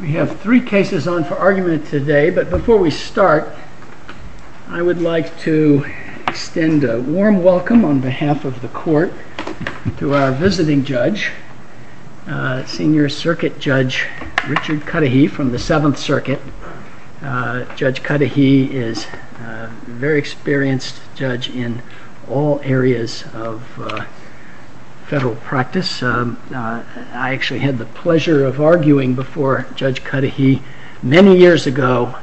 We have three cases on for argument today but before we start I would like to extend a warm welcome on behalf of the court to our visiting judge, Senior Circuit Judge Richard Cudahy from the Seventh Circuit. Judge Cudahy is a very I actually had the pleasure of arguing before Judge Cudahy many years ago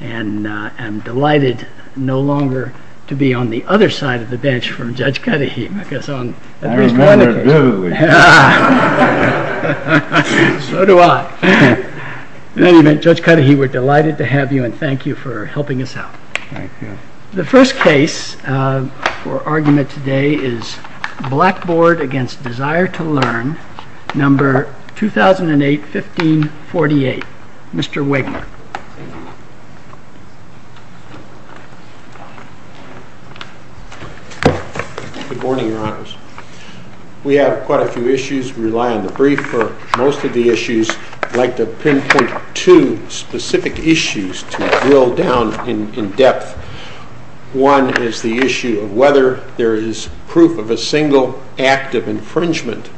and I'm delighted no longer to be on the other side of the bench from Judge Cudahy. Judge Cudahy we're delighted to have you and thank you for helping us out. The first case for argument today is Blackboard v. Desire2Learn, number 2008-15-48. Mr. Wegner. Good morning, Your Honors. We have quite a few issues. We rely on the brief for most of the issues. I'd like to pinpoint two specific issues to drill down in depth. One is the issue of whether there is proof of a single act of infringement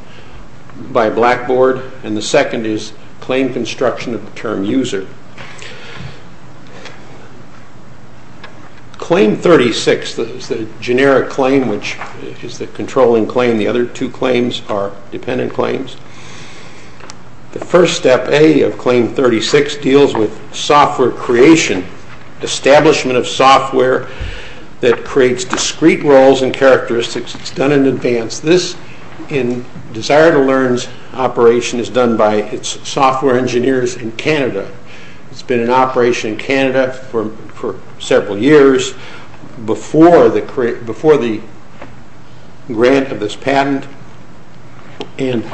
by Blackboard and the second is claim construction of the term user. Claim 36 is the generic claim which is the controlling claim. The other two claims are creation, establishment of software that creates discrete roles and characteristics. It's done in advance. This in Desire2Learn's operation is done by its software engineers in Canada. It's been in operation in Canada for several years before the grant of this patent and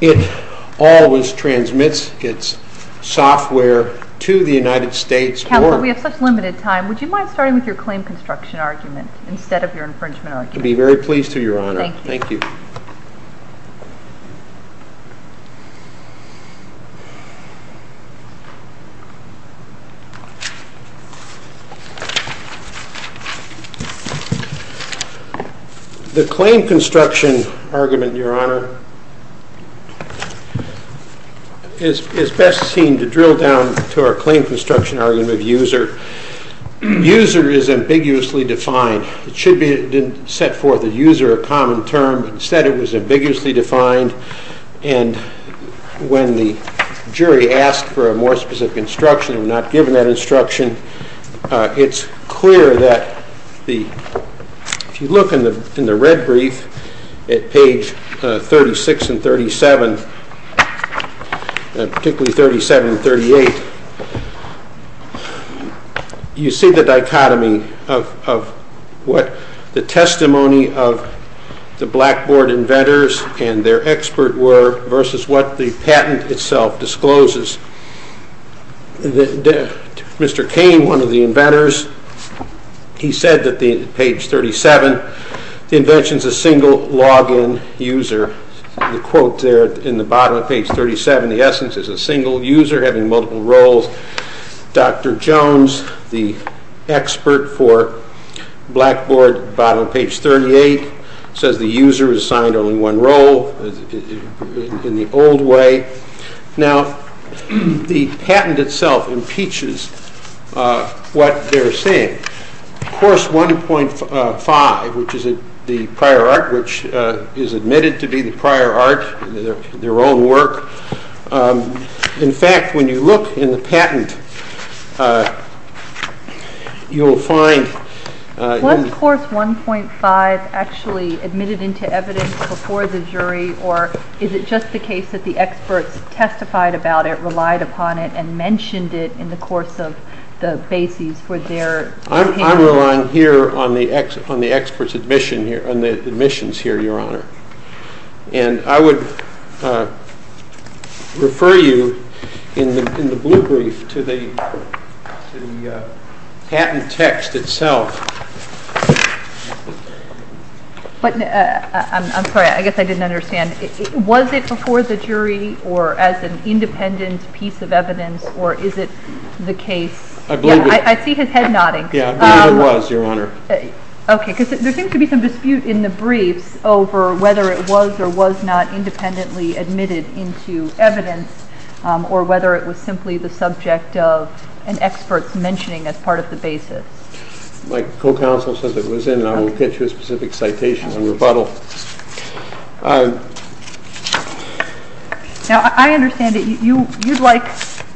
it always transmits its software to the United States. Counsel, we have such limited time. Would you mind starting with your claim construction argument instead of your infringement argument? I'd be very The claim construction argument, Your Honor, is best seen to drill down to our claim construction argument of user. User is ambiguously defined. It should be set forth as user, a common term, but instead it was ambiguously defined and when the jury asked for a more specific instruction and not given that at page 36 and 37, particularly 37 and 38, you see the dichotomy of what the testimony of the Blackboard inventors and their expert were versus what the patent itself discloses. Mr. Kane, one of the inventors, he said that the page 37, the invention's a single login user. The quote there in the bottom of page 37, the essence is a single user having multiple roles. Dr. Jones, the expert for Blackboard, bottom of page 38, says the user is assigned only one role in the old way. Now, the patent itself impeaches what they're saying. Course 1.5, which is the prior art, which is admitted to be the prior art, their own work. In fact, when you look in the patent, you'll find... Was course 1.5 actually admitted into evidence before the jury or is it just the case that the experts testified about it, relied upon it, and mentioned it in the course of the bases for their... I'm relying here on the expert's admission here, on the admissions here, Your Honor, and I would refer you in the blue brief to the patent text itself. I'm sorry, I guess I didn't understand. Was it before the jury or as an independent piece of evidence or is it the case... I see his head nodding. Yeah, I believe it was, Your Honor. Okay, because there seems to be some dispute in the briefs over whether it was or was not independently admitted into evidence or whether it was simply the subject of experts mentioning as part of the basis. My co-counsel says it was in and I will pitch you a specific citation on rebuttal. Now, I understand that you'd like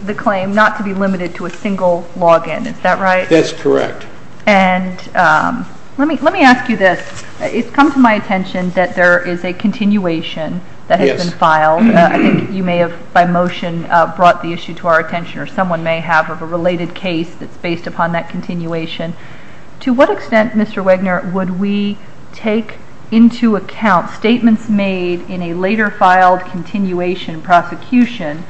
the claim not to be limited to a single login, is that right? That's correct. And let me ask you this. It's come to my attention that there is a continuation that has been filed. I think you have, by motion, brought the issue to our attention or someone may have of a related case that's based upon that continuation. To what extent, Mr. Wagner, would we take into account statements made in a later filed continuation prosecution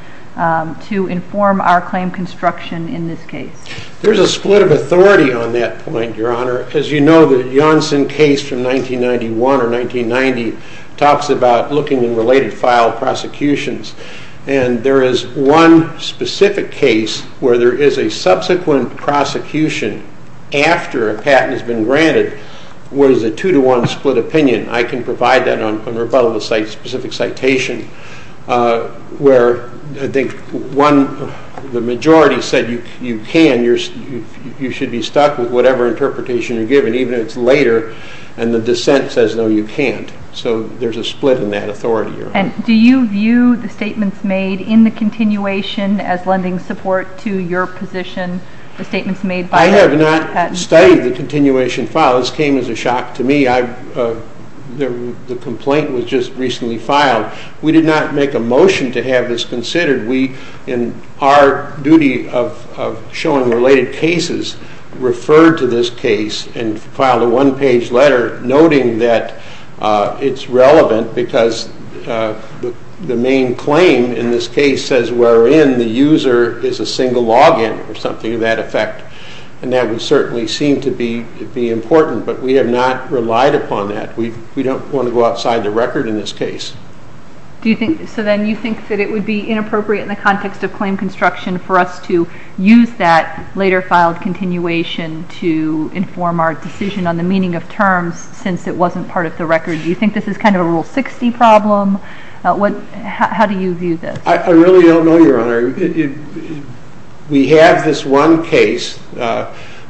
to inform our claim construction in this case? There's a split of authority on that point, Your Honor. As you know, the Janssen case from 1991 or 1990 talks about looking in related filed prosecutions. And there is one specific case where there is a subsequent prosecution after a patent has been granted where there's a two-to-one split opinion. I can provide that on rebuttal, the specific citation, where I think one, the majority said you can, you should be stuck with whatever interpretation you're given, even if it's later, and the dissent says, no, you can't. So there's a split in that authority, Your Honor. And do you view the statements made in the continuation as lending support to your position, the statements made by the patent? I have not studied the continuation file. This came as a shock to me. The complaint was just recently filed. We did not make a motion to have this considered. We, in our duty of showing related cases, referred to this case and filed a one-page letter noting that it's relevant because the main claim in this case says wherein the user is a single login or something to that effect. And that would certainly seem to be important, but we have not relied upon that. We don't want to go outside the record in this case. So then you think that it would be inappropriate in the later filed continuation to inform our decision on the meaning of terms since it wasn't part of the record? Do you think this is kind of a Rule 60 problem? What, how do you view this? I really don't know, Your Honor. We have this one case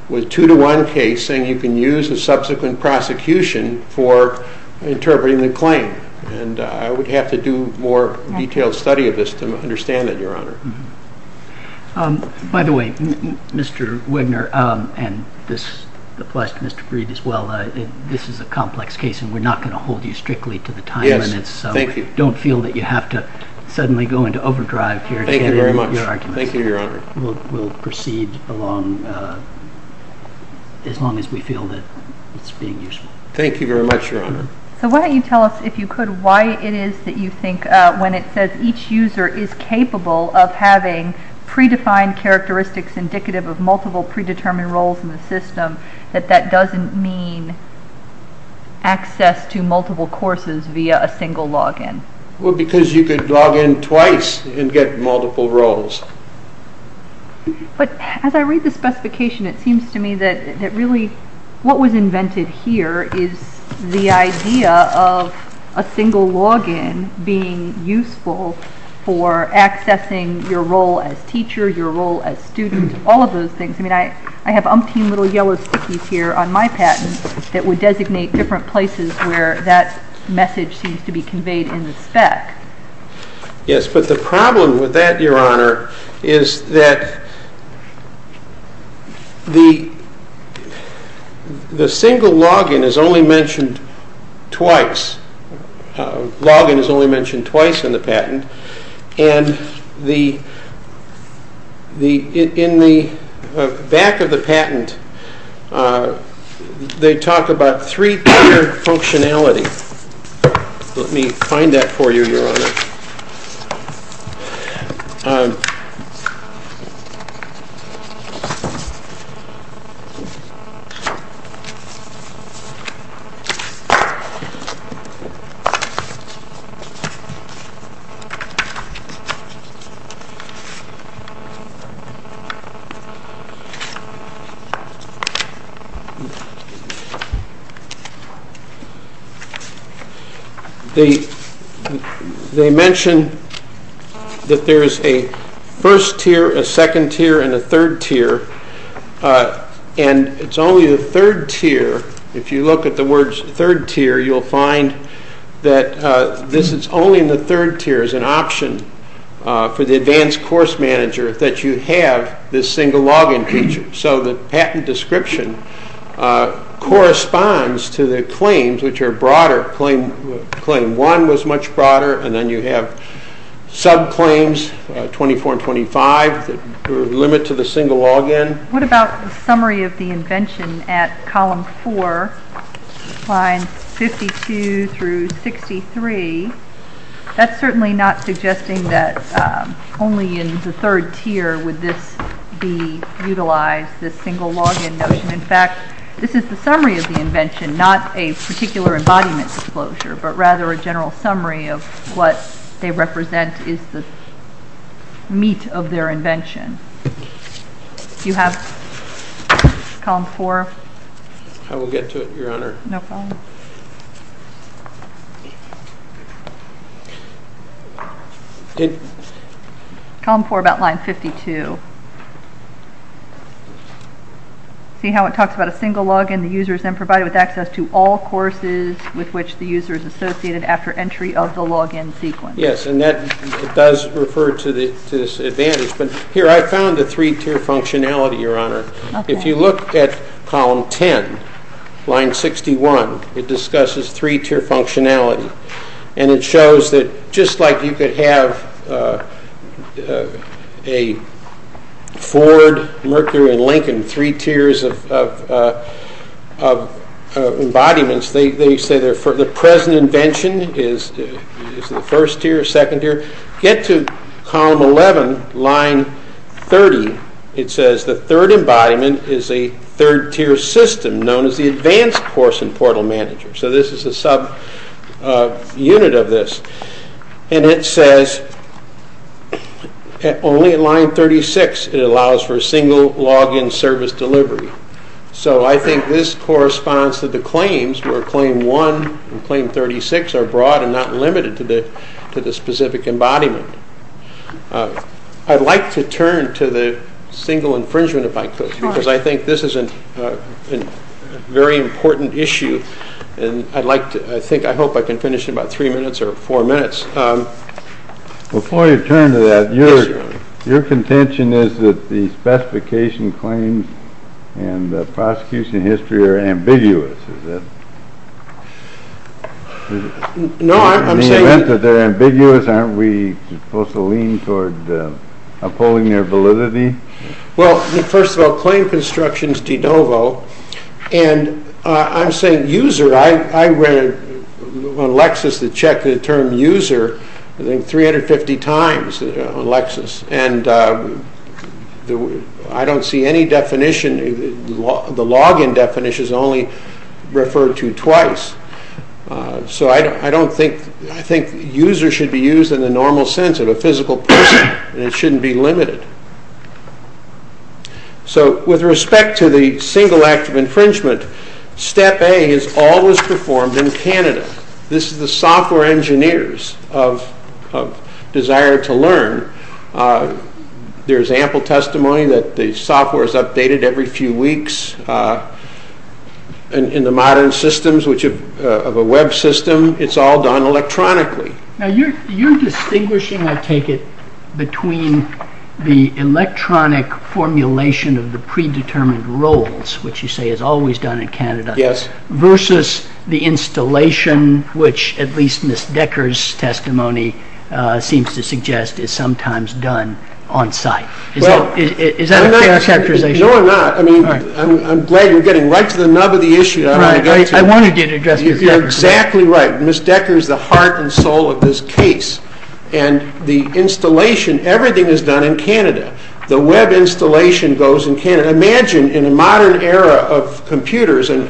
with two to one case saying you can use a subsequent prosecution for interpreting the claim. And I would have to do more detailed study of this to understand it, Your Honor. By the way, Mr. Wigner, and this applies to Mr. Breed as well, this is a complex case and we're not going to hold you strictly to the time limits. So don't feel that you have to suddenly go into overdrive here. Thank you very much. We'll proceed along as long as we feel that it's being useful. Thank you very much, Your Honor. So why don't you tell us, if you could, why it is that you think when it says each user is capable of having predefined characteristics indicative of multiple predetermined roles in the system that that doesn't mean access to multiple courses via a single login? Well, because you could log in twice and get multiple roles. But as I read the specification, it seems to me that really what was invented here is the idea of a single login being useful for accessing your role as teacher, your role as student, all of those things. I mean, I have umpteen little yellow stickies here on my patent that would designate different places where that message seems to be conveyed in the spec. Yes, but the problem with that, Your Honor, is that the single login is only mentioned twice. Login is only mentioned twice in the patent. And in the back of the patent, they talk about three-tier functionality. Let me find that for you, Your Honor. They mention that there is a first tier, a second tier, and a third tier. And it's only the third tier, if you look at the words third tier, you'll find that this is only in the third tier as an option for the advanced course manager that you have this single login feature. So the patent description corresponds to the claims, which are broader. Claim one was much broader, and then you have sub-claims, 24 and 25, that limit to the single login. What about the summary of the invention at column four, lines 52 through 63? That's certainly not suggesting that only in the third tier would this be utilized, this single login notion. In fact, this is the summary of the invention, not a particular embodiment disclosure, but rather a general summary of what they represent is the meat of their invention. Do you have column four? I will get to it, Your Honor. No problem. Column four about line 52. See how it talks about a single login, the user is then provided with access to all courses with which the user is associated after entry of the login sequence. Yes, and that does refer to this advantage, but here I found the three-tier functionality, Your Honor. If you look at just like you could have a Ford, Mercury, and Lincoln, three tiers of embodiments, they say the present invention is the first tier, second tier. Get to column 11, line 30, it says the third embodiment is a third-tier system known as the advanced course and portal manager. So this is a subunit of this, and it says only in line 36 it allows for a single login service delivery. So I think this corresponds to the claims where claim one and claim 36 are broad and not limited to the specific embodiment. I'd like to turn to the single important issue, and I'd like to, I think, I hope I can finish in about three minutes or four minutes. Before you turn to that, your contention is that the specification claims and the prosecution history are ambiguous, is it? No, I'm saying that they're ambiguous, aren't we supposed to lean toward upholding their validity? Well, first of all, claim construction is de novo, and I'm saying user, I read on Lexis to check the term user, I think 350 times on Lexis, and I don't see any definition, the login definition is only referred to twice. So I don't think, I think user should be used in the normal sense of a physical person, and it shouldn't be limited. So with respect to the single act of infringement, step A is always performed in Canada. This is the software engineers of Desire2Learn. There's ample testimony that the software is updated every few weeks in the modern systems, which of a web system, it's all done electronically. Now you're distinguishing, I take it, between the electronic formulation of the pre-determined roles, which you say is always done in Canada, versus the installation, which at least Ms. Decker's testimony seems to suggest is sometimes done on site. Is that a fair characterization? No, I'm not. I mean, I'm glad you're getting right to the nub of the issue. I wanted you to address it. You're exactly right. Ms. Decker's the heart and soul of this case, and the installation, everything is done in Canada. The web installation goes in Canada. Imagine in a modern era of computers, and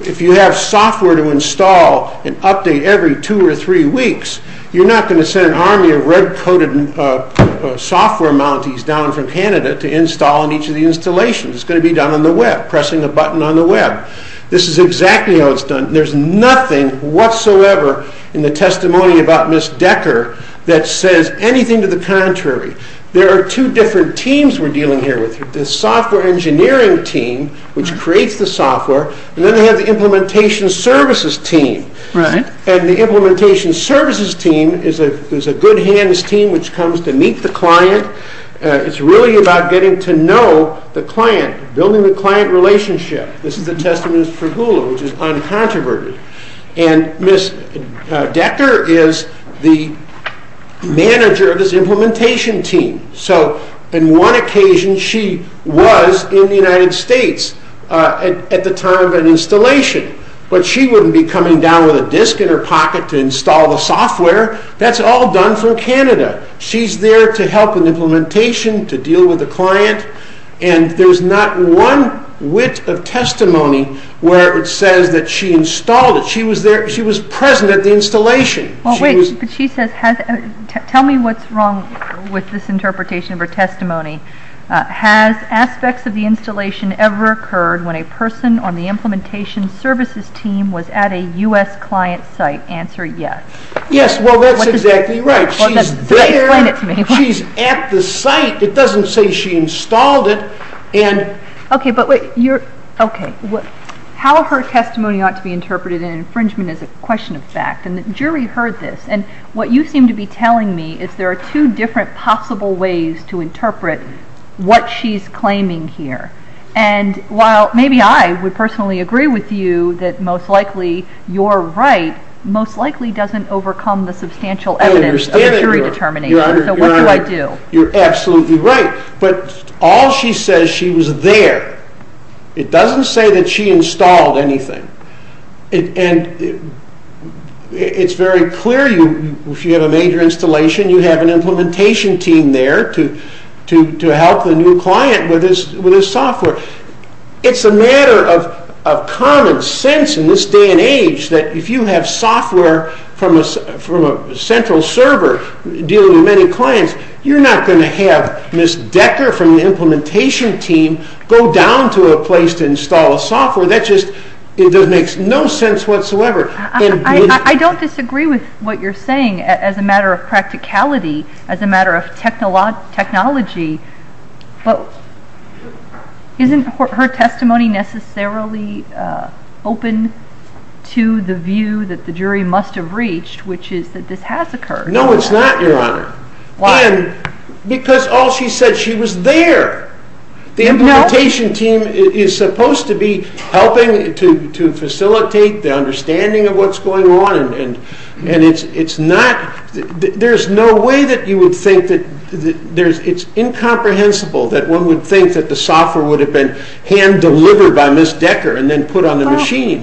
if you have software to install and update every two or three weeks, you're not going to send an army of red-coated software mounties down from Canada to install each of the installations. It's going to be done on the web, pressing a button on the web. This is exactly how it's done. There's nothing whatsoever in the testimony about Ms. Decker that says anything to the contrary. There are two different teams we're dealing here with. The software engineering team, which creates the software, and then they have the implementation services team. The implementation services team is a good hands team which comes to meet the client. It's really about getting to know the client, building the client relationship. This is the testament for Hulu, which is uncontroverted, and Ms. Decker is the manager of this implementation team, so on one occasion she was in the United States at the time of an installation, but she wouldn't be coming down with a disc in her pocket to install the software. That's all done from implementation to deal with the client, and there's not one whit of testimony where it says that she installed it. She was there. She was present at the installation. Wait, but she says, tell me what's wrong with this interpretation of her testimony. Has aspects of the installation ever occurred when a person on the implementation services team was at a U.S. client site? Answer, yes. Yes, well that's exactly right. She's there. She's at the site. It doesn't say she installed it. Okay, but how her testimony ought to be interpreted in an infringement is a question of fact, and the jury heard this, and what you seem to be telling me is there are two different possible ways to interpret what she's claiming here, and while maybe I would personally agree with you that most likely you're right, most You're absolutely right, but all she says she was there. It doesn't say that she installed anything, and it's very clear if you have a major installation, you have an implementation team there to help the new client with his software. It's a matter of common sense in this age that if you have software from a central server dealing with many clients, you're not going to have Ms. Decker from the implementation team go down to a place to install a software. That just, it just makes no sense whatsoever. I don't disagree with what you're saying as a matter of practicality, as a matter of technology, but isn't her testimony necessarily open to the view that the jury must have reached, which is that this has occurred? No, it's not, Your Honor, because all she said she was there. The implementation team is supposed to be helping to facilitate the understanding of what's going on, and it's not, there's no way that you would think that there's, it's incomprehensible that one would think that the software would have been hand-delivered by Ms. Decker and then put on the machine.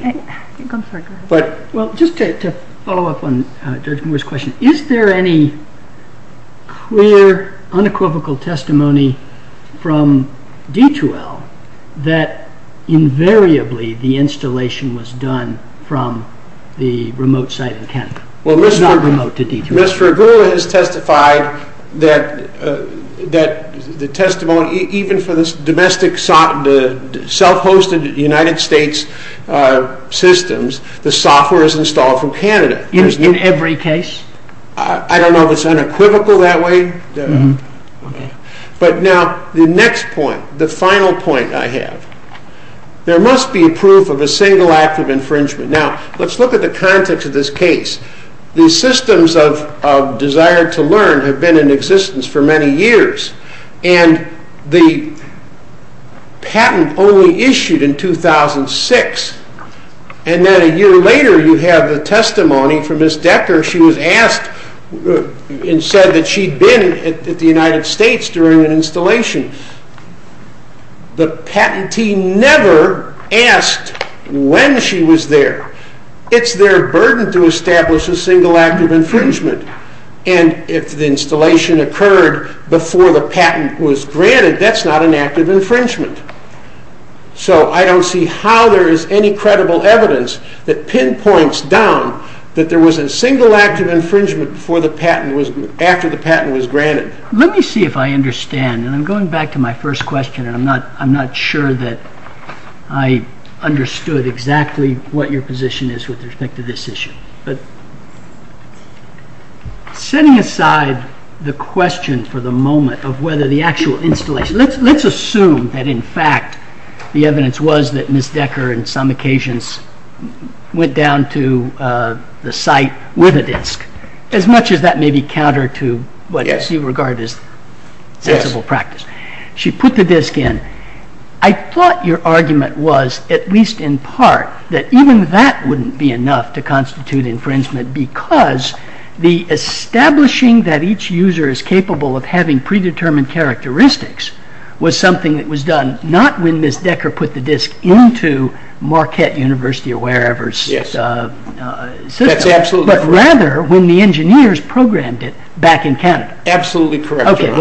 Well, just to follow up on Judge Moore's question, is there any clear, unequivocal testimony from D2L that invariably the installation was done from the remote site in Kent? Well, Ms. Fragula has testified that that the testimony, even for this domestic, self-hosted United States systems, the software is installed from Canada. In every case? I don't know if it's unequivocal that way, but now the next point, the final point I have, there must be proof of a single act of infringement. Now, let's look at the context of this case. The systems of desire to learn have been in existence for many years, and the patent only issued in 2006, and then a year later you have the testimony from Ms. Decker. She was asked and said that she'd been at the United States during an installation. The patent team never asked when she was there. It's their burden to confirm that the installation occurred before the patent was granted. That's not an act of infringement. So, I don't see how there is any credible evidence that pinpoints down that there was a single act of infringement before the patent was, after the patent was granted. Let me see if I understand, and I'm going back to my first question, and I'm not sure that I understood exactly what your position is with respect to this issue, but setting aside the question for the moment of whether the actual installation, let's assume that in fact the evidence was that Ms. Decker in some occasions went down to the site with a disc, as much as that may be counter to what you regard as sensible practice. She put the disc in. I thought your argument was, at least in part, that even that wouldn't be enough to constitute infringement because the establishing that each user is capable of having predetermined characteristics was something that was done not when Ms. Decker put the disc into Marquette University or wherever's system, but rather when the engineers programmed it back in Canada. Absolutely correct. Your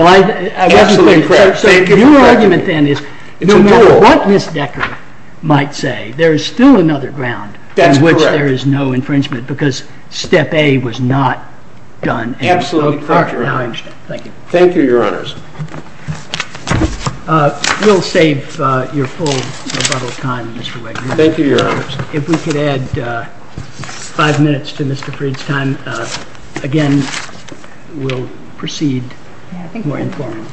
argument then is, no matter what Ms. Decker might say, there is still another ground. That's correct. In which there is no infringement because step A was not done. Absolutely correct. Thank you. Thank you, your honors. We'll save your full rebuttal time, Mr. Wiggins. Thank you, your honors. If we could add five minutes to Mr. Freed's time, again we'll proceed more informally.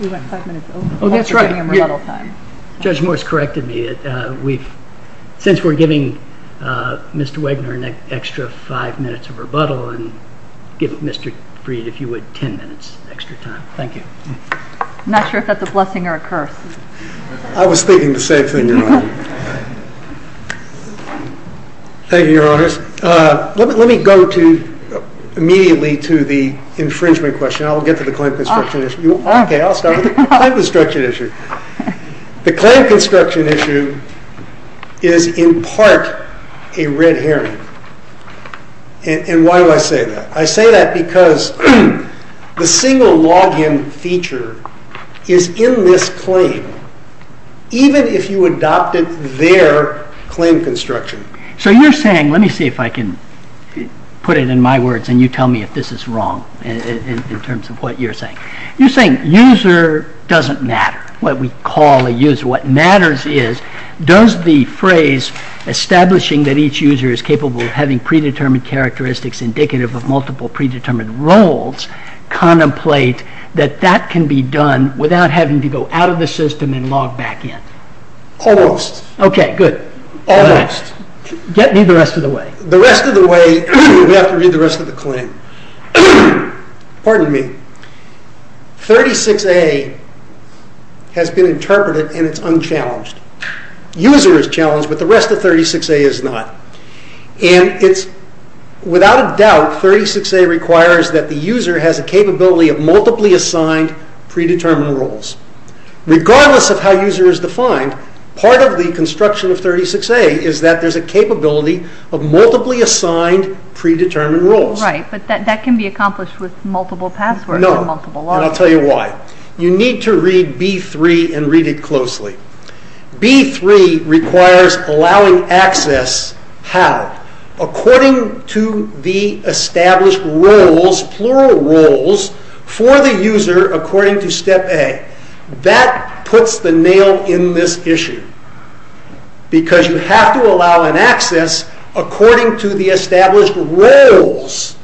We went five minutes over. Oh, that's right. Judge Morse corrected me. Since we're giving Mr. Wegner an extra five minutes of rebuttal and give Mr. Freed, if you would, 10 minutes extra time. Thank you. I'm not sure if that's a blessing or a curse. I was thinking the same thing, your honor. Thank you, your honors. Let me go to immediately to the infringement question. I'll get to the claim construction issue. Okay, I'll start with the claim construction issue. The claim construction issue is in part a red herring. Why do I say that? I say that because the single login feature is in this claim, even if you adopted their claim construction. So you're saying, let me see if I can put it in my words and you tell me if this is wrong in terms of what you're saying. You're saying user doesn't matter, what we call a user. What matters is, does the phrase establishing that each user is capable of having predetermined characteristics indicative of multiple predetermined roles contemplate that that can be done without having to go out of the system and log back in? Almost. Okay, good. Almost. Get me the rest of the way. The rest of the way, we have to read the rest of the claim. Pardon me. 36A has been interpreted and it's unchallenged. User is challenged, but the rest of 36A is not. Without a doubt, 36A requires that the user has a capability of multiply assigned predetermined roles. Regardless of how user is defined, part of the construction of 36A is that there's a capability of multiply assigned predetermined roles. Right, but that can be accomplished with multiple passwords. No, and I'll tell you why. You need to read B3 and read it closely. B3 requires allowing access, how? According to the established roles, plural roles, for the user according to step A. That puts the nail in this issue because you have to allow an access according to the established roles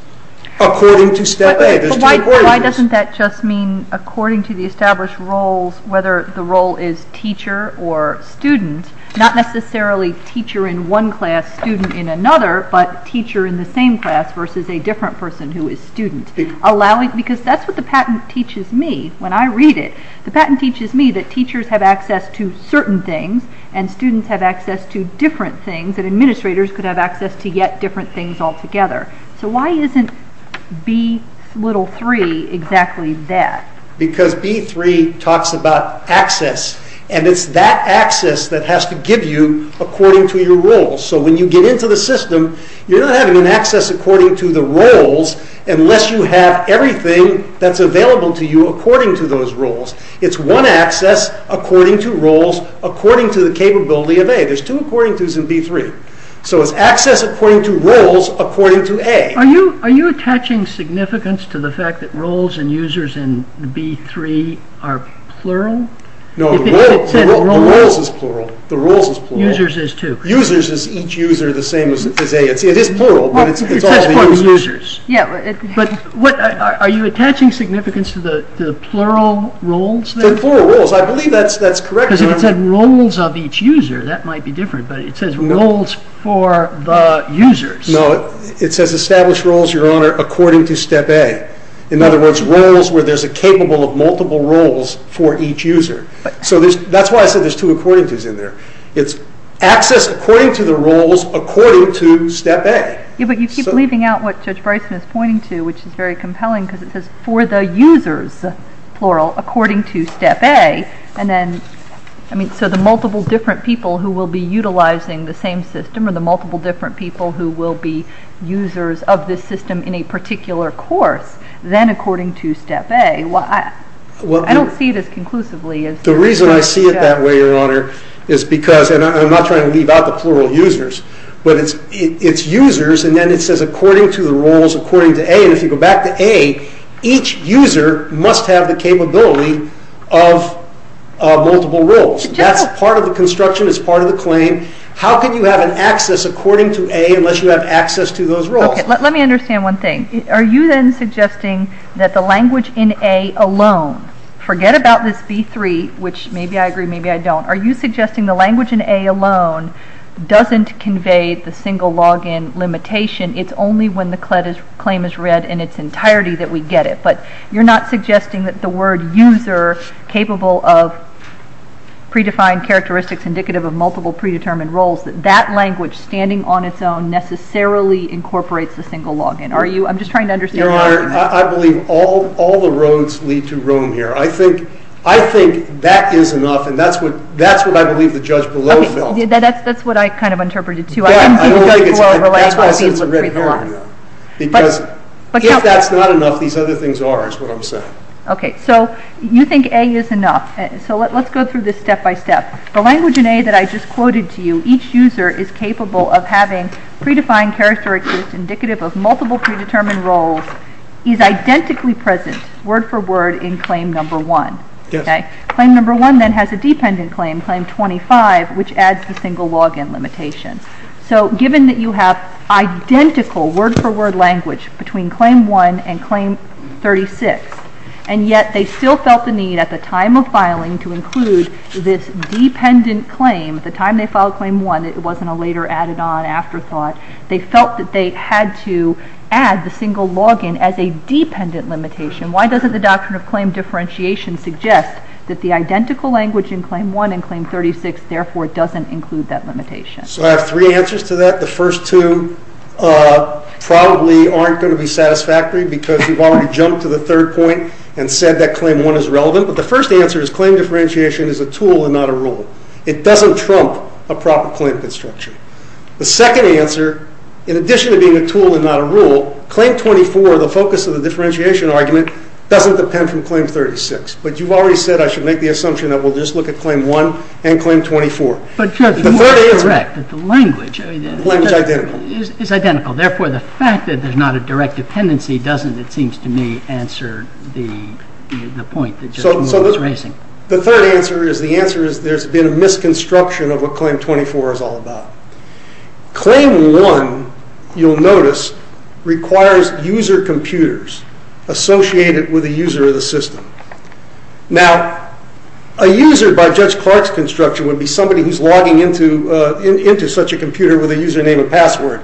according to step A. Why doesn't that just mean according to the established roles, whether the role is teacher or student, not necessarily teacher in one class, student in another, but teacher in the same class versus a different person who is student. Because that's what the patent teaches me when I read it. The patent teaches me that teachers have access to certain things and students have access to different things and administrators could have access to yet different things altogether. So why isn't B3 exactly that? Because B3 talks about access and it's that access that has to give you according to your roles. So when you get into the everything that's available to you according to those roles, it's one access according to roles according to the capability of A. There's two according to's in B3. So it's access according to roles according to A. Are you attaching significance to the fact that roles and users in B3 are plural? No, the roles is plural. The users is too. Users is each user the same as A. It is Are you attaching significance to the plural roles? The plural roles, I believe that's correct. Because if it said roles of each user, that might be different, but it says roles for the users. No, it says established roles, your honor, according to step A. In other words, roles where there's a capable of multiple roles for each user. So that's why I said there's two according to's in there. It's access according to the roles according to step A. Yeah, but you keep leaving out what Judge Bryson is pointing to, which is very compelling, because it says for the users, plural, according to step A. So the multiple different people who will be utilizing the same system or the multiple different people who will be users of this system in a particular course, then according to step A. I don't see it as conclusively. The reason I see it that way, your honor, is because, and I'm not trying to leave out the plural users, but it's users and it says according to the roles according to A. If you go back to A, each user must have the capability of multiple roles. That's part of the construction, it's part of the claim. How can you have an access according to A unless you have access to those roles? Let me understand one thing. Are you then suggesting that the language in A alone, forget about this B3, which maybe I agree, maybe I don't, are you suggesting the language in A alone doesn't convey the single login limitation? It's only when the claim is read in its entirety that we get it, but you're not suggesting that the word user, capable of predefined characteristics indicative of multiple predetermined roles, that that language standing on its own necessarily incorporates the single login, are you? I'm just trying to understand. Your honor, I believe all the roads lead to Rome here. I think that is enough and that's what I kind of interpreted too. That's why I said it's a red herring, because if that's not enough, these other things are, is what I'm saying. Okay, so you think A is enough. So let's go through this step by step. The language in A that I just quoted to you, each user is capable of having predefined characteristics indicative of multiple predetermined roles, is identically present, word for word, in claim number one. Claim number one then has a dependent claim, 25, which adds the single login limitation. So given that you have identical word for word language between claim one and claim 36, and yet they still felt the need at the time of filing to include this dependent claim, at the time they filed claim one, it wasn't a later added on afterthought, they felt that they had to add the single login as a dependent limitation. Why doesn't the doctrine of claim differentiation suggest that the identical language in claim one and claim 36 therefore doesn't include that limitation? So I have three answers to that. The first two probably aren't going to be satisfactory, because you've already jumped to the third point and said that claim one is relevant. But the first answer is claim differentiation is a tool and not a rule. It doesn't trump a proper claim construction. The second answer, in addition to being a tool and not a rule, claim 24, the focus of the differentiation argument, doesn't depend from claim 36. But you've already said I should make the assumption that we'll just look at claim one and claim 24. But you are correct that the language is identical. Therefore, the fact that there's not a direct dependency doesn't, it seems to me, answer the point that Judge Moore was raising. The third answer is the answer is there's been a misconstruction of what claim 24 is all about. Claim one, you'll notice, requires user computers associated with a user of the system. Now, a user by Judge Clark's construction would be somebody who's logging into such a computer with a username and password.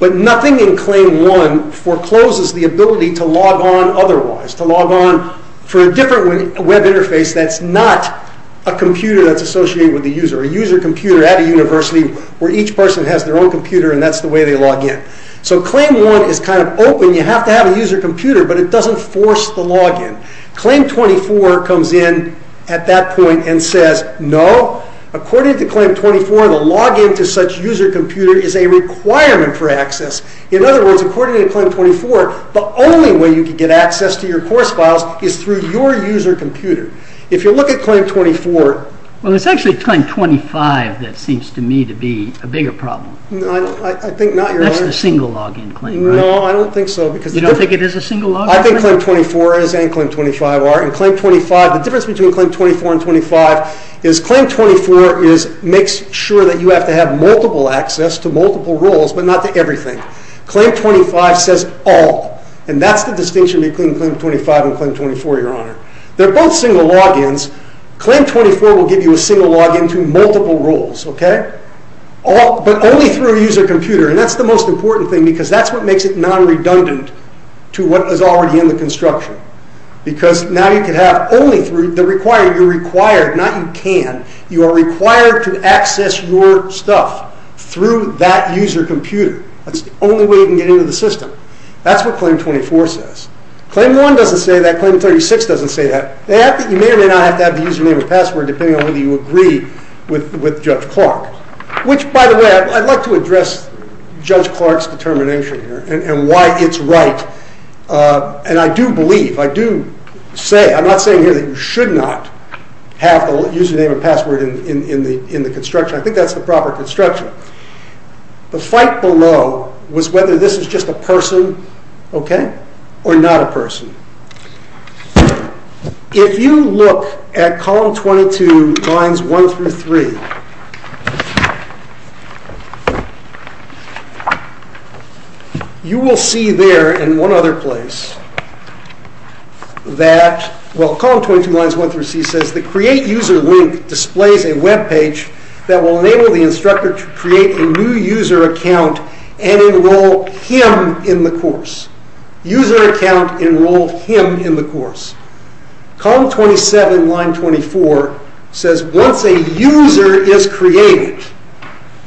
But nothing in claim one forecloses the ability to log on otherwise, to log on for a different web interface that's not a computer that's associated with the user, a user computer at a university where each person has their own computer and that's the way they log in. So claim one is kind of open. You have to have a user computer, but it doesn't force the login. Claim 24 comes in at that point and says, no, according to claim 24, the login to such user computer is a requirement for access. In other words, according to claim 24, the only way you can get access to your course files is through your user computer. If you look at claim 24... Well, it's actually claim 25 that seems to me to be a bigger problem. I think not. That's the single login claim, right? No, I don't think so. You don't think it is a single login? I think claim 24 is and claim 25 are. The difference between claim 24 and 25 is claim 24 makes sure that you have to have multiple access to multiple roles, but not to everything. Claim 25 says all, and that's the distinction between claim 25 and claim 24, your honor. They're both single logins. Claim 24 will give you a single login to multiple roles, but only through a user computer, and that's the most important thing because that's what makes it non-redundant to what is already in the construction. Because now you can have only through the required. You're required, not you can. You are required to access your stuff through that user computer. That's the only way you can get into the system. That's what claim 24 says. Claim 1 doesn't say that. Claim 36 doesn't say that. You may or may not have to have the username or password depending on whether you agree with Judge Clark, which by the way, I'd like to address Judge Clark's determination here and why it's right, and I do believe, I do say, I'm not saying here that you should not have a username and password in the construction. I think that's the proper construction. The fight below was whether this is just a person or not a person. If you look at column 22 lines 1 through 3, you will see there in one other place that, well, column 22 lines 1 through 3 says, the create user link displays a webpage that will enable the instructor to create a new user account and enroll him in the course. User account, enroll him in the course. Column 27 line 24 says, once a user is created,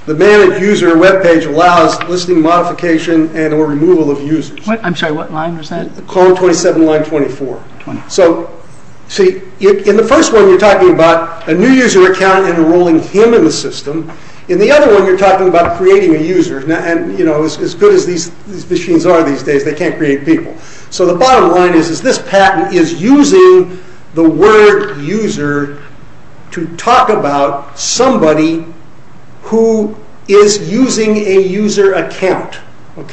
the manage user webpage allows listing modification and or removal of users. I'm sorry, what line was that? Column 27 line 24. In the first one, you're talking about a new user account and enrolling him in the system. In the other one, you're talking about creating a user. As good as these machines are these days, they can't create people. The bottom line is this patent is using the word user to talk about somebody who is using a user account.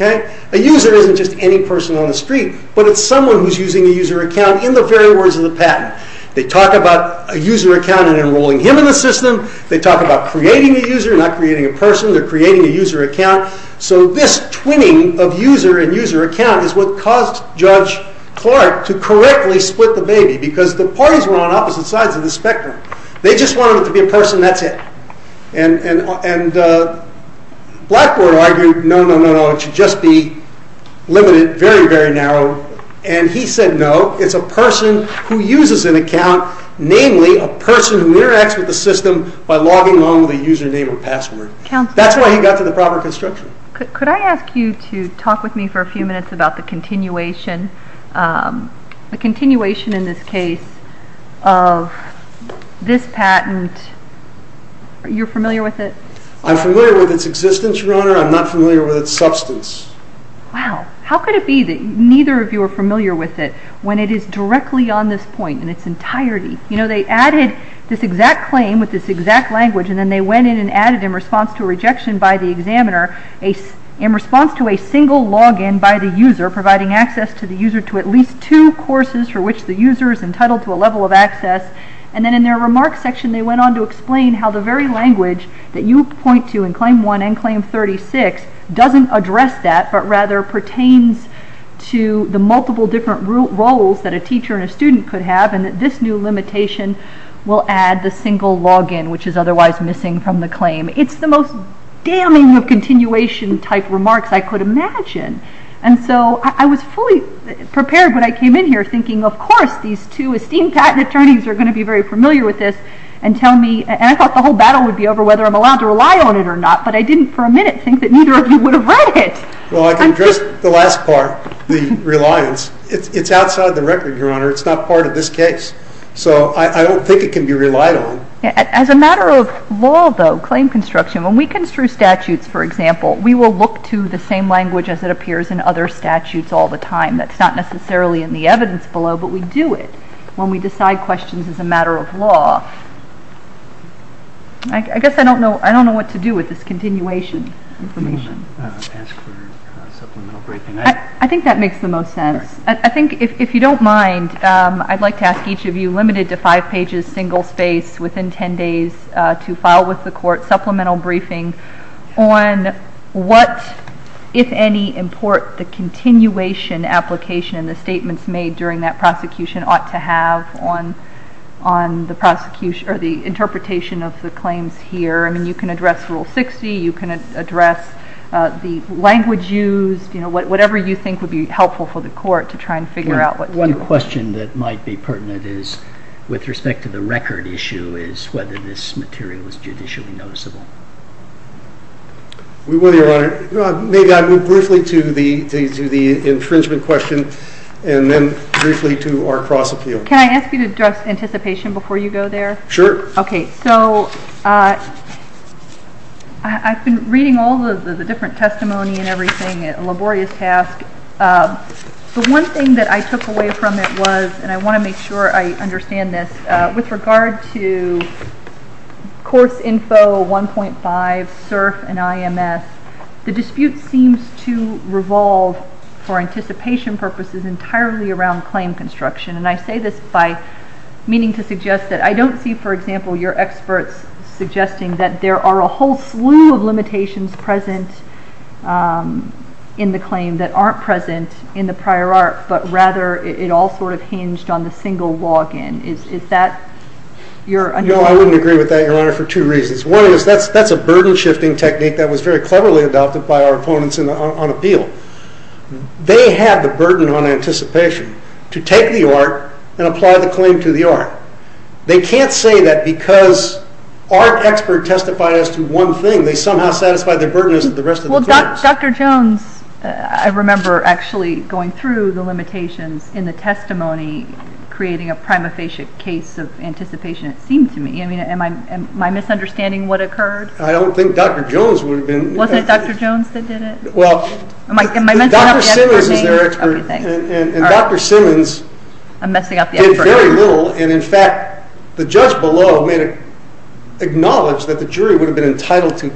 A user isn't just any person on the street, but it's someone who's using a user account in the very words of the patent. They talk about a user account and enrolling him in the system. They talk about creating a user, not creating a person. They're creating a user account. This twinning of user and user account is what caused Judge Clark to correctly split the baby because the parties were on opposite sides of the spectrum. They just wanted it to be a person, that's it. Blackboard argued, no, no, no, no, it should just be limited, very, very narrow. He said, no, it's a person who uses an account, namely a person who interacts with the system by logging on with a username or password. That's why he got to the proper construction. Could I ask you to talk with me for a few minutes about the continuation, the continuation in this case of this patent. Are you familiar with it? I'm familiar with its existence, Your Honor. I'm not familiar with its substance. Wow. How could it be that neither of you are familiar with it when it is directly on this point in its entirety? They added this exact claim with this exact language and then they went in and added in response to a rejection by the examiner, in response to a single login by the user providing access to the user to at least two courses for which the user is entitled to a level of access. Then in their remarks section, they went on to explain how the very language that you point to in claim one and claim 36 doesn't address that but rather pertains to the multiple different roles that a teacher and a student could have and that this new limitation will add the single login, which is otherwise missing from the claim. It's the most damning of continuation type remarks I could imagine. I was fully prepared when I came in here thinking, of course, these two esteemed patent attorneys are going to be very familiar with this and tell me, and I thought the whole battle would be over whether I'm allowed to rely on it or not, but I didn't for a minute think that neither of you would have read it. Well, I can address the last part, the reliance. It's outside the record, Your Honor. It's not part of this case. So I don't think it can be relied on. As a matter of law, though, claim construction, when we construe statutes, for example, we will look to the same language as it appears in other statutes all the time. That's not part of the law. I guess I don't know what to do with this continuation information. I think that makes the most sense. I think if you don't mind, I'd like to ask each of you, limited to five pages, single space, within 10 days to file with the court supplemental briefing on what, if any, import the continuation application and the statements made during that prosecution ought to have on the interpretation of the claims here. I mean, you can address Rule 60. You can address the language used, whatever you think would be helpful for the court to try and figure out what to do. One question that might be pertinent is, with respect to the record issue, is whether this material is judicially noticeable. Well, Your Honor, maybe I'll move briefly to the infringement question and then briefly to our cross-appeal. Can I ask you to address anticipation before you go there? Sure. Okay. So I've been reading all of the different testimony and everything, a laborious task. The one thing that I took away from it was, and I want to make sure I understand this, with regard to Courts Info 1.5, CERF, and IMS, the dispute seems to revolve, for anticipation purposes, entirely around claim construction. And I say this by meaning to suggest that I don't see, for example, your experts suggesting that there are a whole slew of limitations present in the claim that aren't present in the prior arc, but rather it all sort of hinged on the single log-in. Is that your understanding? No, I wouldn't agree with that, Your Honor, for two reasons. One is that's a burden-shifting technique that was very cleverly adopted by our opponents on appeal. They have the burden on anticipation to take the arc and apply the claim to the arc. They can't say that because our expert testified as to one thing, they somehow satisfied their burden as to the rest of the court. Dr. Jones, I remember actually going through the limitations in the testimony, creating a prima facie case of anticipation, it seemed to me. Am I misunderstanding what occurred? I don't think Dr. Jones would have been. Wasn't it Dr. Jones that did it? Well, Dr. Simmons is their expert, and Dr. Simmons did very little, and in fact, the judge below made it acknowledged that the jury would have been entitled to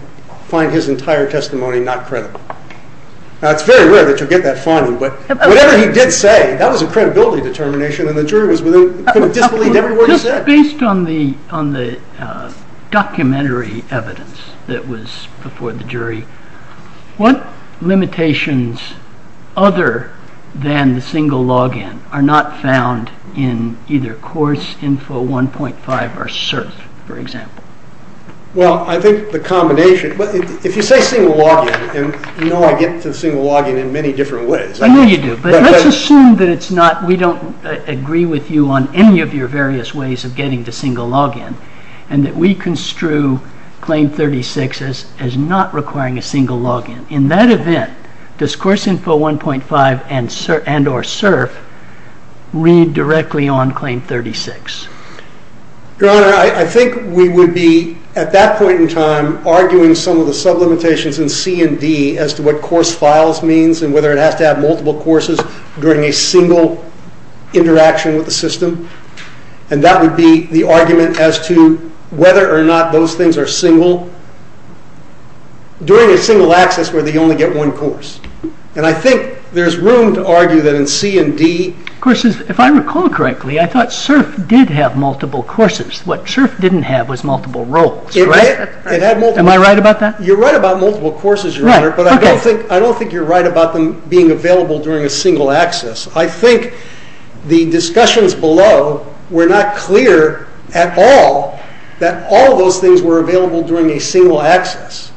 find his entire testimony not credible. Now, it's very rare that you'll get that fondly, but whatever he did say, that was a credibility determination, and the jury was within disbelief of every word he said. Based on the documentary evidence that was before the jury, what limitations other than the single log-in are not found in either course info 1.5 or cert, for example? Well, I think the combination, if you say single log-in, and you know I get to single log-in in many different ways. I know you do, but let's assume that it's not, we don't agree with you on any of your various ways of getting to single log-in, and that we construe claim 36 as not requiring a single log-in. In that event, does course info 1.5 and or cert read directly on claim 36? Your Honor, I think we would be, at that point in time, arguing some of the sublimitations in C and D as to what course files means, and whether it has to have multiple courses during a single interaction with the system, and that would be the argument as to whether or not those things are single during a single access where they only get one course, and I think there's room to argue that in C and D... If I recall correctly, I thought CERF did have multiple courses. What CERF didn't have was multiple roles, right? Am I right about that? You're right about multiple courses, Your Honor, but I don't think you're right about them being available during a single access. I think the discussions below were not clear at all that all those things were available during a single access.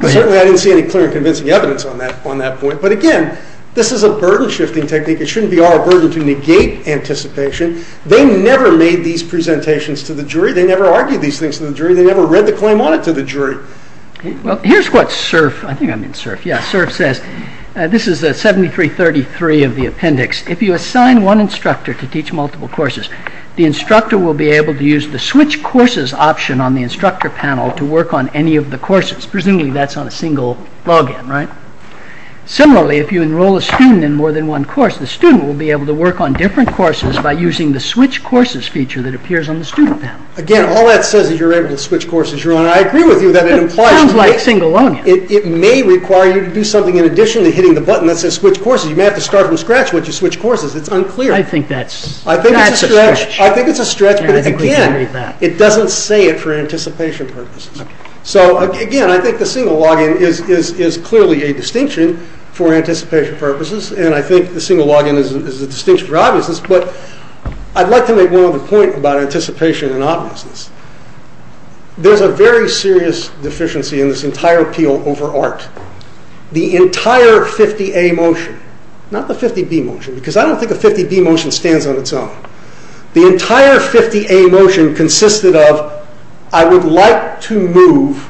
Certainly, I didn't see any clear and convincing evidence on that point, but again, this is a burden-shifting technique. It shouldn't be our burden to negate anticipation. They never made these presentations to the jury. They never argued these things to the jury. They never read the claim on it to the jury. Well, here's what CERF... I think I mean CERF. Yeah, CERF says... This is 7333 of the appendix. If you assign one instructor to teach multiple courses, the instructor will be able to use the switch courses option on the instructor panel to work on any of the courses. Presumably, that's on a single login, right? Similarly, if you enroll a student in more than one course, the student will be able to work on different courses by using the switch courses feature that appears on the student panel. Again, all that says is you're able to switch courses, Your Honor. I agree with you that it implies... It sounds like single login. It may require you to do something in addition to hitting the button that says switch courses. You may have to start from scratch once you switch courses. It's unclear. I think that's... I think it's a stretch. I think it's a stretch, but again, it doesn't say it for anticipation purposes. So again, I think the single login is clearly a distinction for anticipation purposes, and I think the single login is a distinction for obviousness, but I'd like to make one other point about anticipation and obviousness. There's a very serious deficiency in this entire appeal over art. The entire 50A motion, not the 50B motion, because I don't think a 50B motion stands on its own. The entire 50A motion consisted of I would like to move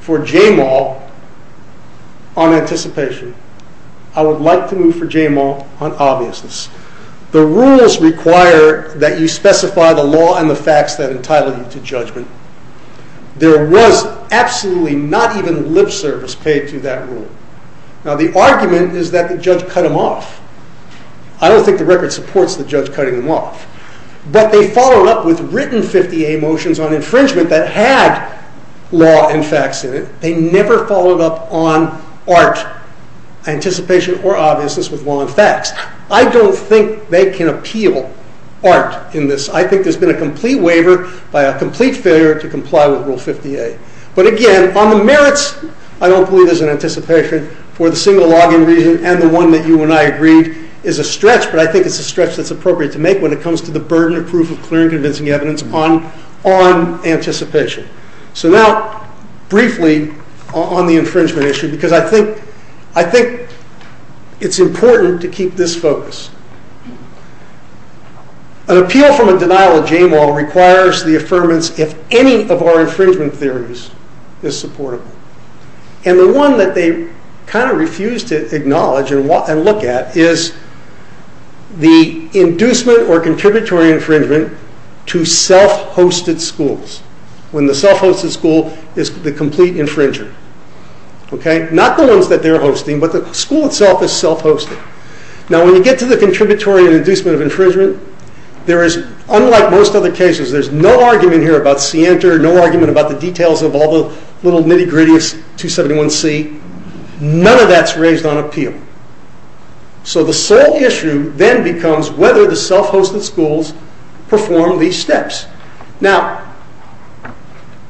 for JAMAL on anticipation. I would like to move for JAMAL on obviousness. The rules require that you specify the law and the facts that entitle you to judgment. There was absolutely not even lip service paid to that rule. Now, the argument is that the judge cut him off. I don't think the record supports the judge cutting him off, but they followed up with written 50A motions on infringement that had law and facts in it. They never followed up on art, anticipation, or obviousness with law and facts. I don't think they can appeal art in this. I think there's been a complete waiver by a complete failure to comply with Rule 50A, but again, on the merits, I don't believe there's for the single log-in reason and the one that you and I agreed is a stretch, but I think it's a stretch that's appropriate to make when it comes to the burden of proof of clear and convincing evidence on anticipation. So now briefly on the infringement issue, because I think it's important to keep this focus. An appeal from a denial of JAMAL requires the affirmance if any of our infringement theories is supportable, and the one that they kind of refuse to acknowledge and look at is the inducement or contributory infringement to self-hosted schools, when the self-hosted school is the complete infringer. Not the ones that they're hosting, but the school itself is self-hosted. Now, when you get to the contributory and inducement of infringement, there is, unlike most other cases, there's no argument here about scienter, no argument about the details of all the little nitty-gritty of 271C. None of that's raised on appeal. So the sole issue then becomes whether the self-hosted schools perform these steps. Now,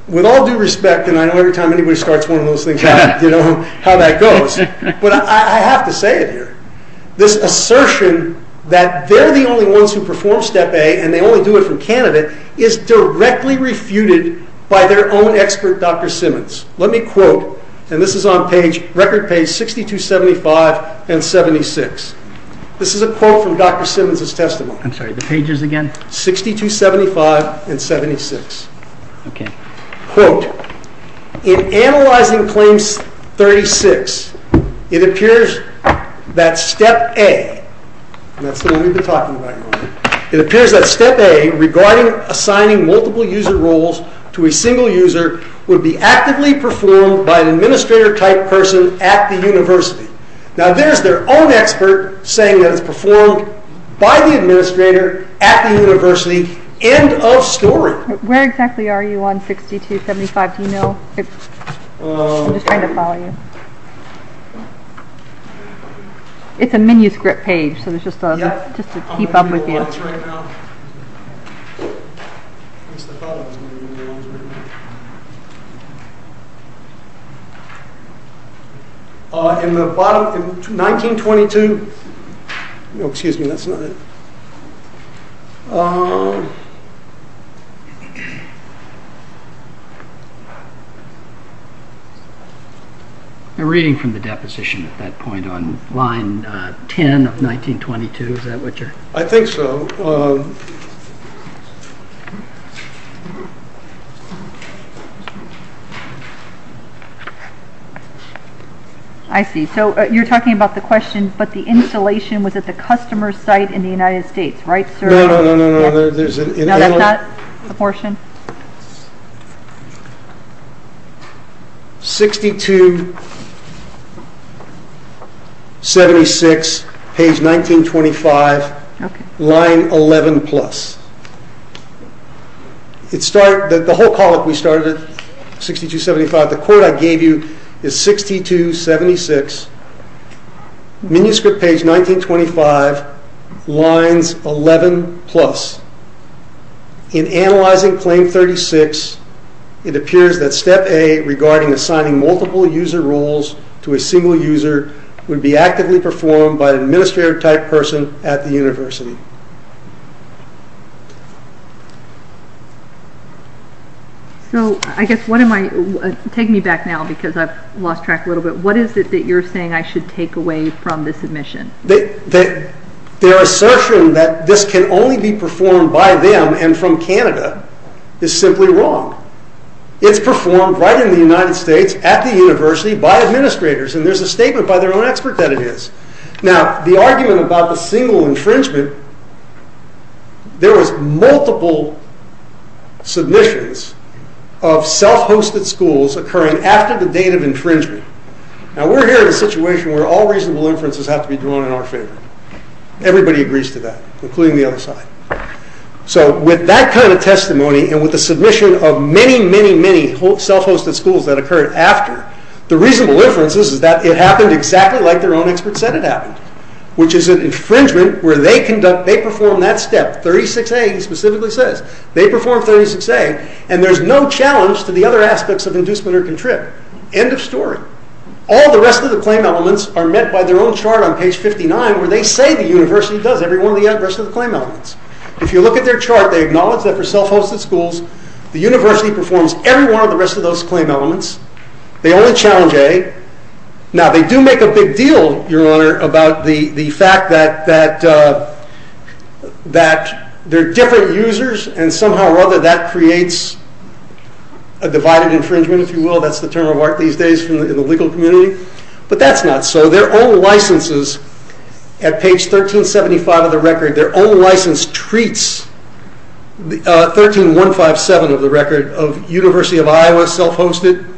with all due respect, and I know every time anybody starts one of those things, you know how that goes, but I have to say it here. This assertion that they're the only ones who perform step A and they only do it from candidate is directly refuted by their own expert, Dr. Simmons. Let me quote, and this is on page, record page 6275 and 76. This is a quote from Dr. Simmons. It appears that step A, and that's the one we've been talking about, it appears that step A regarding assigning multiple user roles to a single user would be actively performed by an administrator type person at the university. Now, there's their own expert saying that it's performed by the administrator at the university. End of story. Where exactly are you on 6275? Do you know? I'm just trying to follow you. It's a manuscript page, so it's just to keep up with you. Right now. In 1922, no, excuse me, that's not it. I'm reading from the deposition at that point on line 10 of 1922, is that what you're? I think so. I see, so you're talking about the question, but the installation was at the customer's in the United States, right sir? No, no, no, no. That's not the portion. 6276, page 1925, line 11 plus. It started, the whole column, we started at 6275. The 6276, manuscript page 1925, lines 11 plus. In analyzing claim 36, it appears that step A regarding assigning multiple user roles to a single user would be actively performed by an administrator type person at the university. So, I guess, what am I, take me back now because I've lost track a little bit. What is it that you're saying I should take away from this submission? Their assertion that this can only be performed by them and from Canada is simply wrong. It's performed right in the United States at the university by administrators and there's a statement by their own expert that it is. Now, the argument about the single infringement, there was multiple submissions of self-hosted schools occurring after the state of infringement. Now, we're here in a situation where all reasonable inferences have to be drawn in our favor. Everybody agrees to that, including the other side. So, with that kind of testimony and with the submission of many, many, many self-hosted schools that occurred after, the reasonable inference is that it happened exactly like their own expert said it happened, which is an infringement where they conduct, they perform that step, 36A specifically says. They perform 36A and there's no challenge to the other aspects of inducement or contrib. End of story. All the rest of the claim elements are met by their own chart on page 59 where they say the university does every one of the rest of the claim elements. If you look at their chart, they acknowledge that for self-hosted schools, the university performs every one of the rest of those claim elements. They only challenge A. Now, they do make a big deal, Your Honor, about the fact that they're different users and somehow or other that creates a divided infringement, if you will. That's the term of art these days in the legal community, but that's not so. Their own licenses at page 1375 of the record, their own license treats 13157 of the record of University of Iowa self-hosted,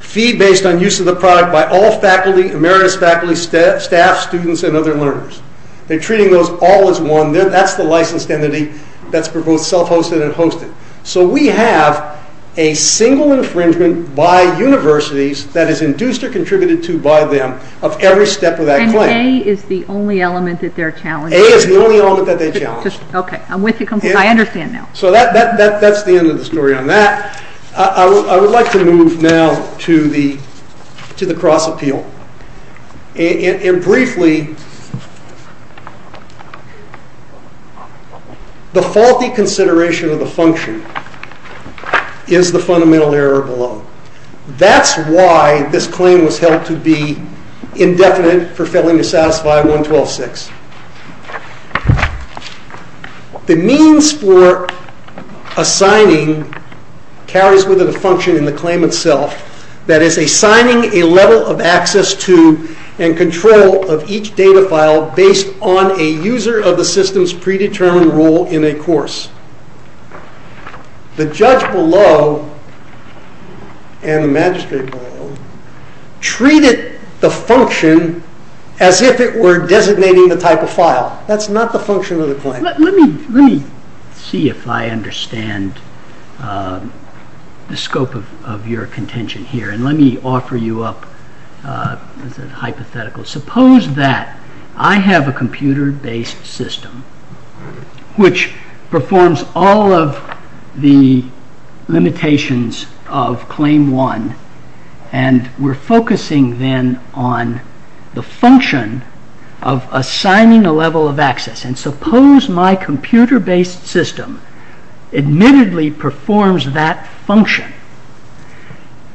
feed based on use of the product by all faculty, emeritus faculty, staff, students, and other learners. They're treating those all as one. That's the licensed entity that's for both self-hosted and hosted. So we have a single infringement by universities that is induced or contributed to by them of every step of that claim. And A is the only element that they're challenging? A is the only element that they challenged. Okay. I'm with you completely. I understand now. So that's the end of the story on that. I would like to move now to the cross appeal. And briefly, the faulty consideration of the function is the fundamental error below. That's why this claim was held to be indefinite for failing to satisfy 112.6. The means for assigning carries with it a function in the claim itself that is assigning a level of access to and control of each data file based on a user of the system's predetermined role in a course. The judge below and the magistrate below treated the function as if it were designating the type of file. That's not the function of the claim. Let me see if I understand the scope of your contention here. And let me offer you up a hypothetical. Suppose that I have a computer-based system which performs all of the limitations of claim one. And we're focusing then on the function of assigning a level of access. And suppose my computer-based system admittedly performs that function.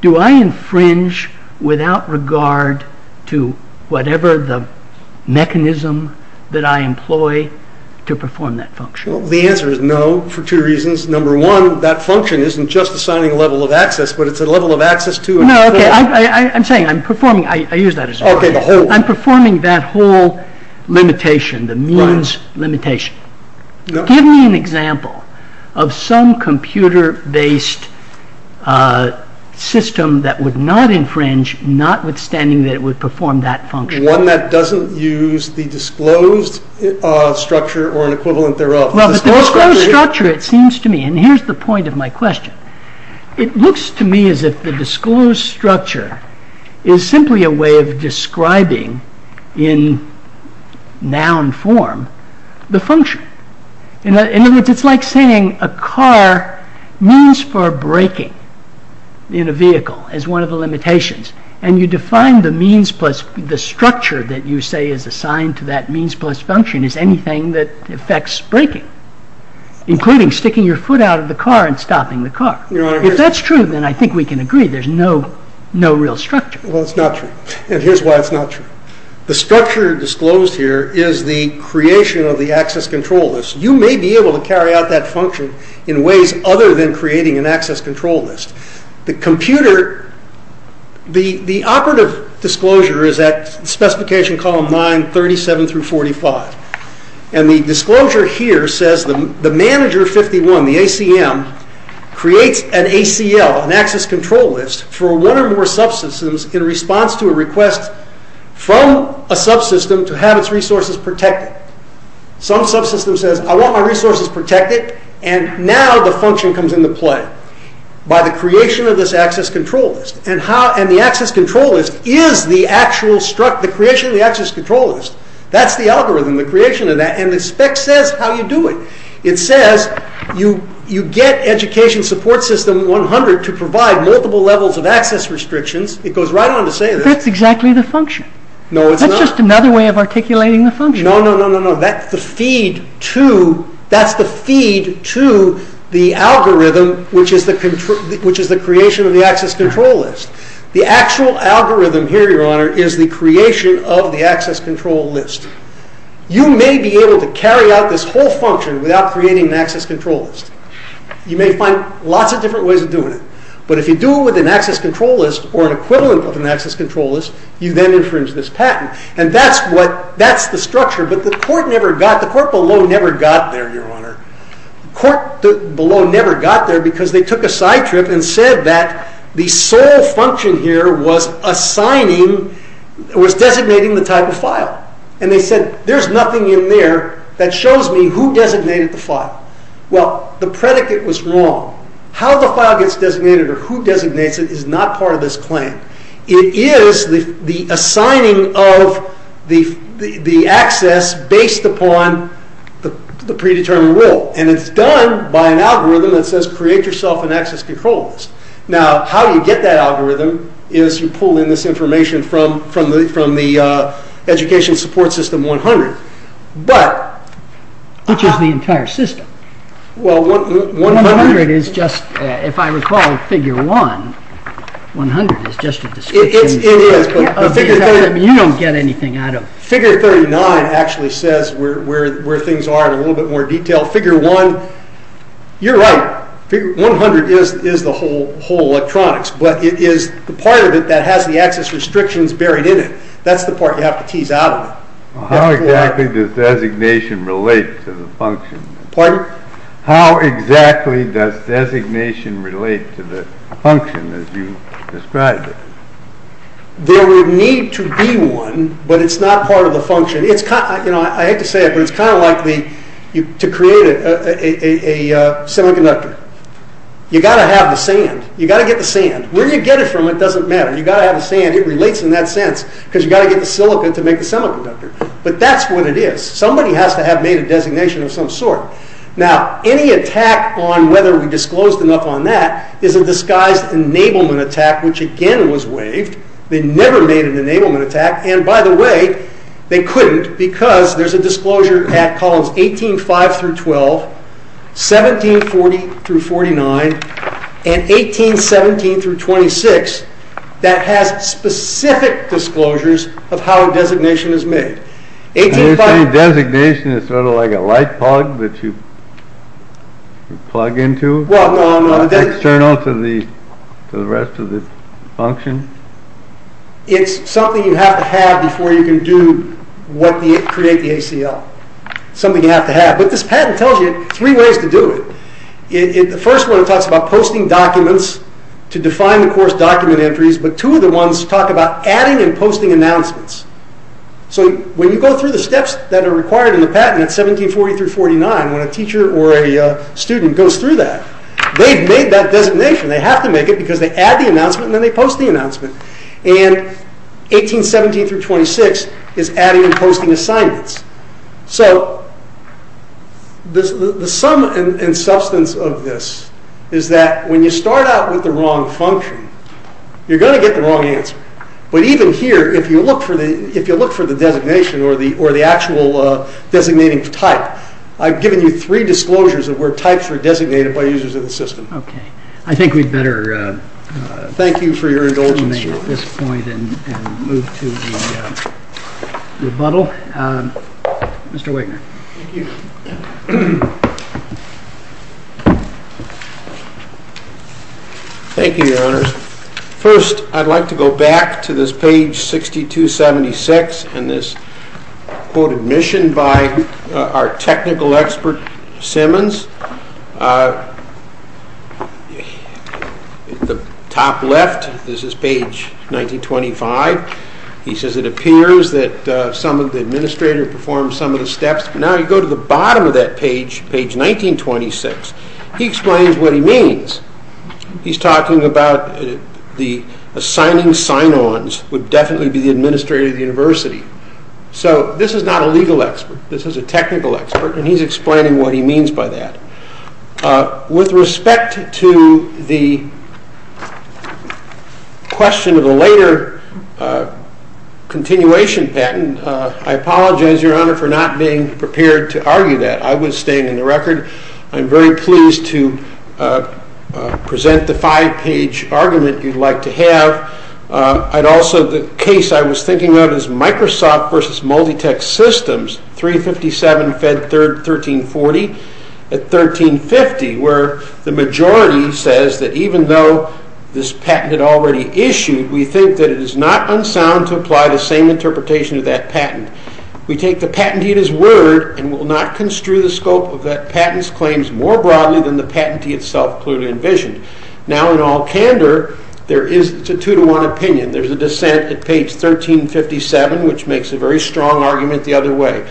Do I infringe without regard to whatever the mechanism that I employ to perform that function? The answer is no, for two reasons. Number one, that function isn't just assigning a level of access, but it's a level of access to and control. No, I'm saying I'm performing. I use that as an argument. I'm performing that whole limitation, the means limitation. Give me an example of some computer-based system that would not infringe, notwithstanding that it would perform that function. One that doesn't use the disclosed structure or an equivalent thereof. Well, the disclosed structure, it seems to me, and here's the point of my question. It looks to me as if the disclosed structure is simply a way of describing in noun form the function. In other words, it's like saying a car means for braking in a vehicle as one of the limitations. And you define the means plus the structure that you say is assigned to that means plus function as anything that affects braking, including sticking your foot out of the car and stopping the car. If that's true, then I think we can agree there's no real structure. Well, it's not true, and here's why it's not true. The structure disclosed here is the creation of the access control list. You may be able to carry out that function in ways other than creating an access control list. The computer, the operative disclosure is at specification column 9, 37 through 45. And the disclosure here says the manager 51, the ACM, creates an ACL, an access control list, for one or more subsystems in response to a request from a subsystem to have its resources protected. Some subsystem says, I want my resources protected, and now the function comes into play by the creation of this access control list. And the access control list is the actual creation of the access control list. That's the algorithm, the creation of that. And the spec says how you do it. It says you get education support system 100 to provide multiple levels of access restrictions. It goes right on to say this. That's exactly the function. No, it's not. That's just another way of articulating the function. No, no, no. That's the feed to the algorithm, which is the creation of the access control list. The actual algorithm here, your honor, is the creation of the access control list. You may be able to carry out this whole function without creating an access control list. You may find lots of different ways of doing it. But if you do it with an access control list or an equivalent of an access control list, you then infringe this patent. And that's the structure. But the court below never got there, your honor. The court below never got there because they took a side trip and said that the sole function here was designating the type of file. And they said there's nothing in there that shows me who designated the file. Well, the predicate was wrong. How the file gets designated or who designates it is not part of this claim. It is the assigning of the access based upon the predetermined will. And it's done by an algorithm that says create yourself an access control list. Now, how you get that algorithm is you pull in this information from the education support system 100. Which is the entire system. Well, 100 is just, if I recall, figure 1. 100 is just a description. It is. You don't get anything out of it. Figure 39 actually says where things are in a little bit more detail. Figure 1, you're right. 100 is the whole electronics. But it is the part of it that has the access restrictions buried in it. That's the part you have to tease out of it. How exactly does designation relate to the function? Pardon? How exactly does designation relate to the function as you described it? There would need to be one, but it's not part of the function. I hate to say it, but it's kind of like to create a semiconductor. You've got to have the sand. You've got to get the sand. Where you get it from, it doesn't matter. You've got to have the sand. It relates in that sense because you've got to get the silica to make the semiconductor. But that's what it is. Somebody has to have made a designation of some sort. Now, any attack on whether we disclosed enough on that is a disguised enablement attack, which again was waived. They never made an enablement attack. And by the way, they couldn't because there's a disclosure at columns 18.5 through 12, 17.40 through 49, and 18.17 through 26 that has specific disclosures of how a designation is made. You're saying designation is sort of like a light plug that you plug into? External to the rest of the function? It's something you have to have before you can create the ACL. Something you have to have. But this patent tells you three ways to do it. The first one talks about posting documents to define the course document entries. But two of the ones talk about adding and posting announcements. So when you go through the steps that are required in the patent at 17.40 through 49, when a teacher or a student goes through that, they've made that designation. They have to make it because they add the announcement and then they post the announcement. And 18.17 through 26 is adding and posting assignments. So the sum and substance of this is that when you start out with the wrong function, you're going to get the wrong answer. But even here, if you look for the designation or the actual designating type, I've given you three disclosures of where types were designated by users of the system. Okay. I think we'd better thank you for your indulgence at this point and move to the rebuttal. Mr. Wigner. Thank you. Thank you, Your Honors. First, I'd like to go back to this page 6276 and this quoted mission by our technical expert, Simmons. At the top left, this is page 1925. He says, it appears that some of the administrator performed some of the steps. Now you go to the bottom of that page, page 1926. He explains what he means. He's talking about the assigning sign-ons would definitely be the administrator of the university. So this is not a legal expert. This is a technical expert and he's explaining what he means by that. With respect to the question of a later continuation patent, I apologize, Your Honor, for not being prepared to argue that. I was staying in the record. I'm very pleased to present the five-page argument you'd like to have. Also, the case I was thinking of is Microsoft versus Multitech Systems, 357 Fed 3rd, 1340 at 1350, where the majority says that even though this patent had already issued, we think that it is not unsound to apply the same interpretation of that patent. We take the patentee at his word and will not construe the scope of that patent's claims more broadly than the patentee itself clearly envisioned. Now, in all candor, there is a two-to-one opinion. There's a dissent at page 1357, which makes a very strong argument the other way.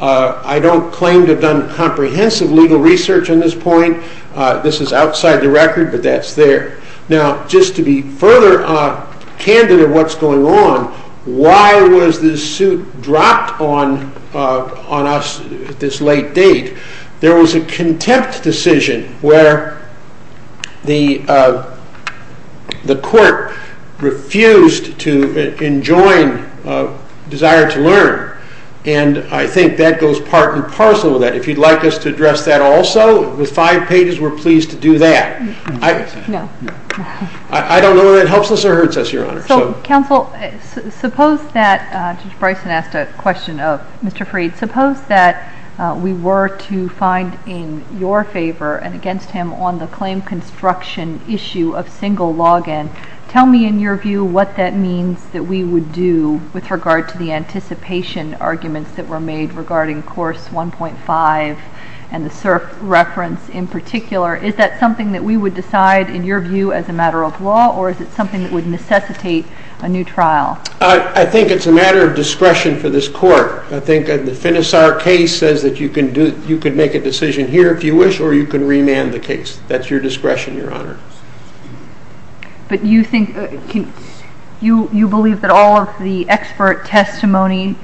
I don't claim to have done comprehensive legal research on this point. This is outside the record, but that's there. Now, just to be further candid of what's going on, why was this suit dropped on us at this late date? There was a contempt decision where the court refused to enjoin a desire to learn, and I think that goes part and parcel with that. If you'd like us to address that also, with five pages, we're pleased to do that. I don't know whether that helps us or hurts us, Your Honor. So, counsel, suppose that, Judge Bryson asked a question of Mr. Freed, suppose that we were to find in your favor and against him on the claim construction issue of single log-in. Tell me, in your view, what that means that we would do with regard to the anticipation arguments that were made regarding course 1.5 and the SIRF reference in particular. Is that something that we would decide, in your view, as a matter of law, or is it something that would necessitate a new trial? I think it's a matter of discretion for this court. I think the Finisar case says that you can make a decision here if you wish, or you can remand the case. That's your discretion, Your Honor. But you believe that all of the expert testimony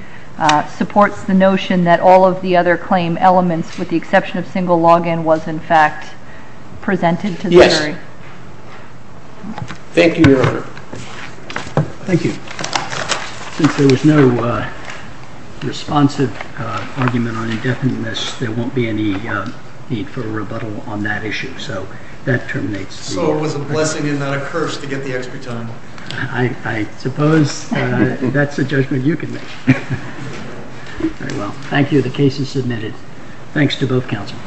supports the notion that all of the other claim elements, with the exception of single log-in, was, in fact, presented to the jury? Yes. Thank you, Your Honor. Thank you. Since there was no responsive argument on indefiniteness, there won't be any need for a rebuttal on that issue. So that terminates the hearing. So it was a blessing and not a curse to get the expert testimony. I suppose that's a judgment you can make. Very well. Thank you. The case is submitted. Thanks to both counsel.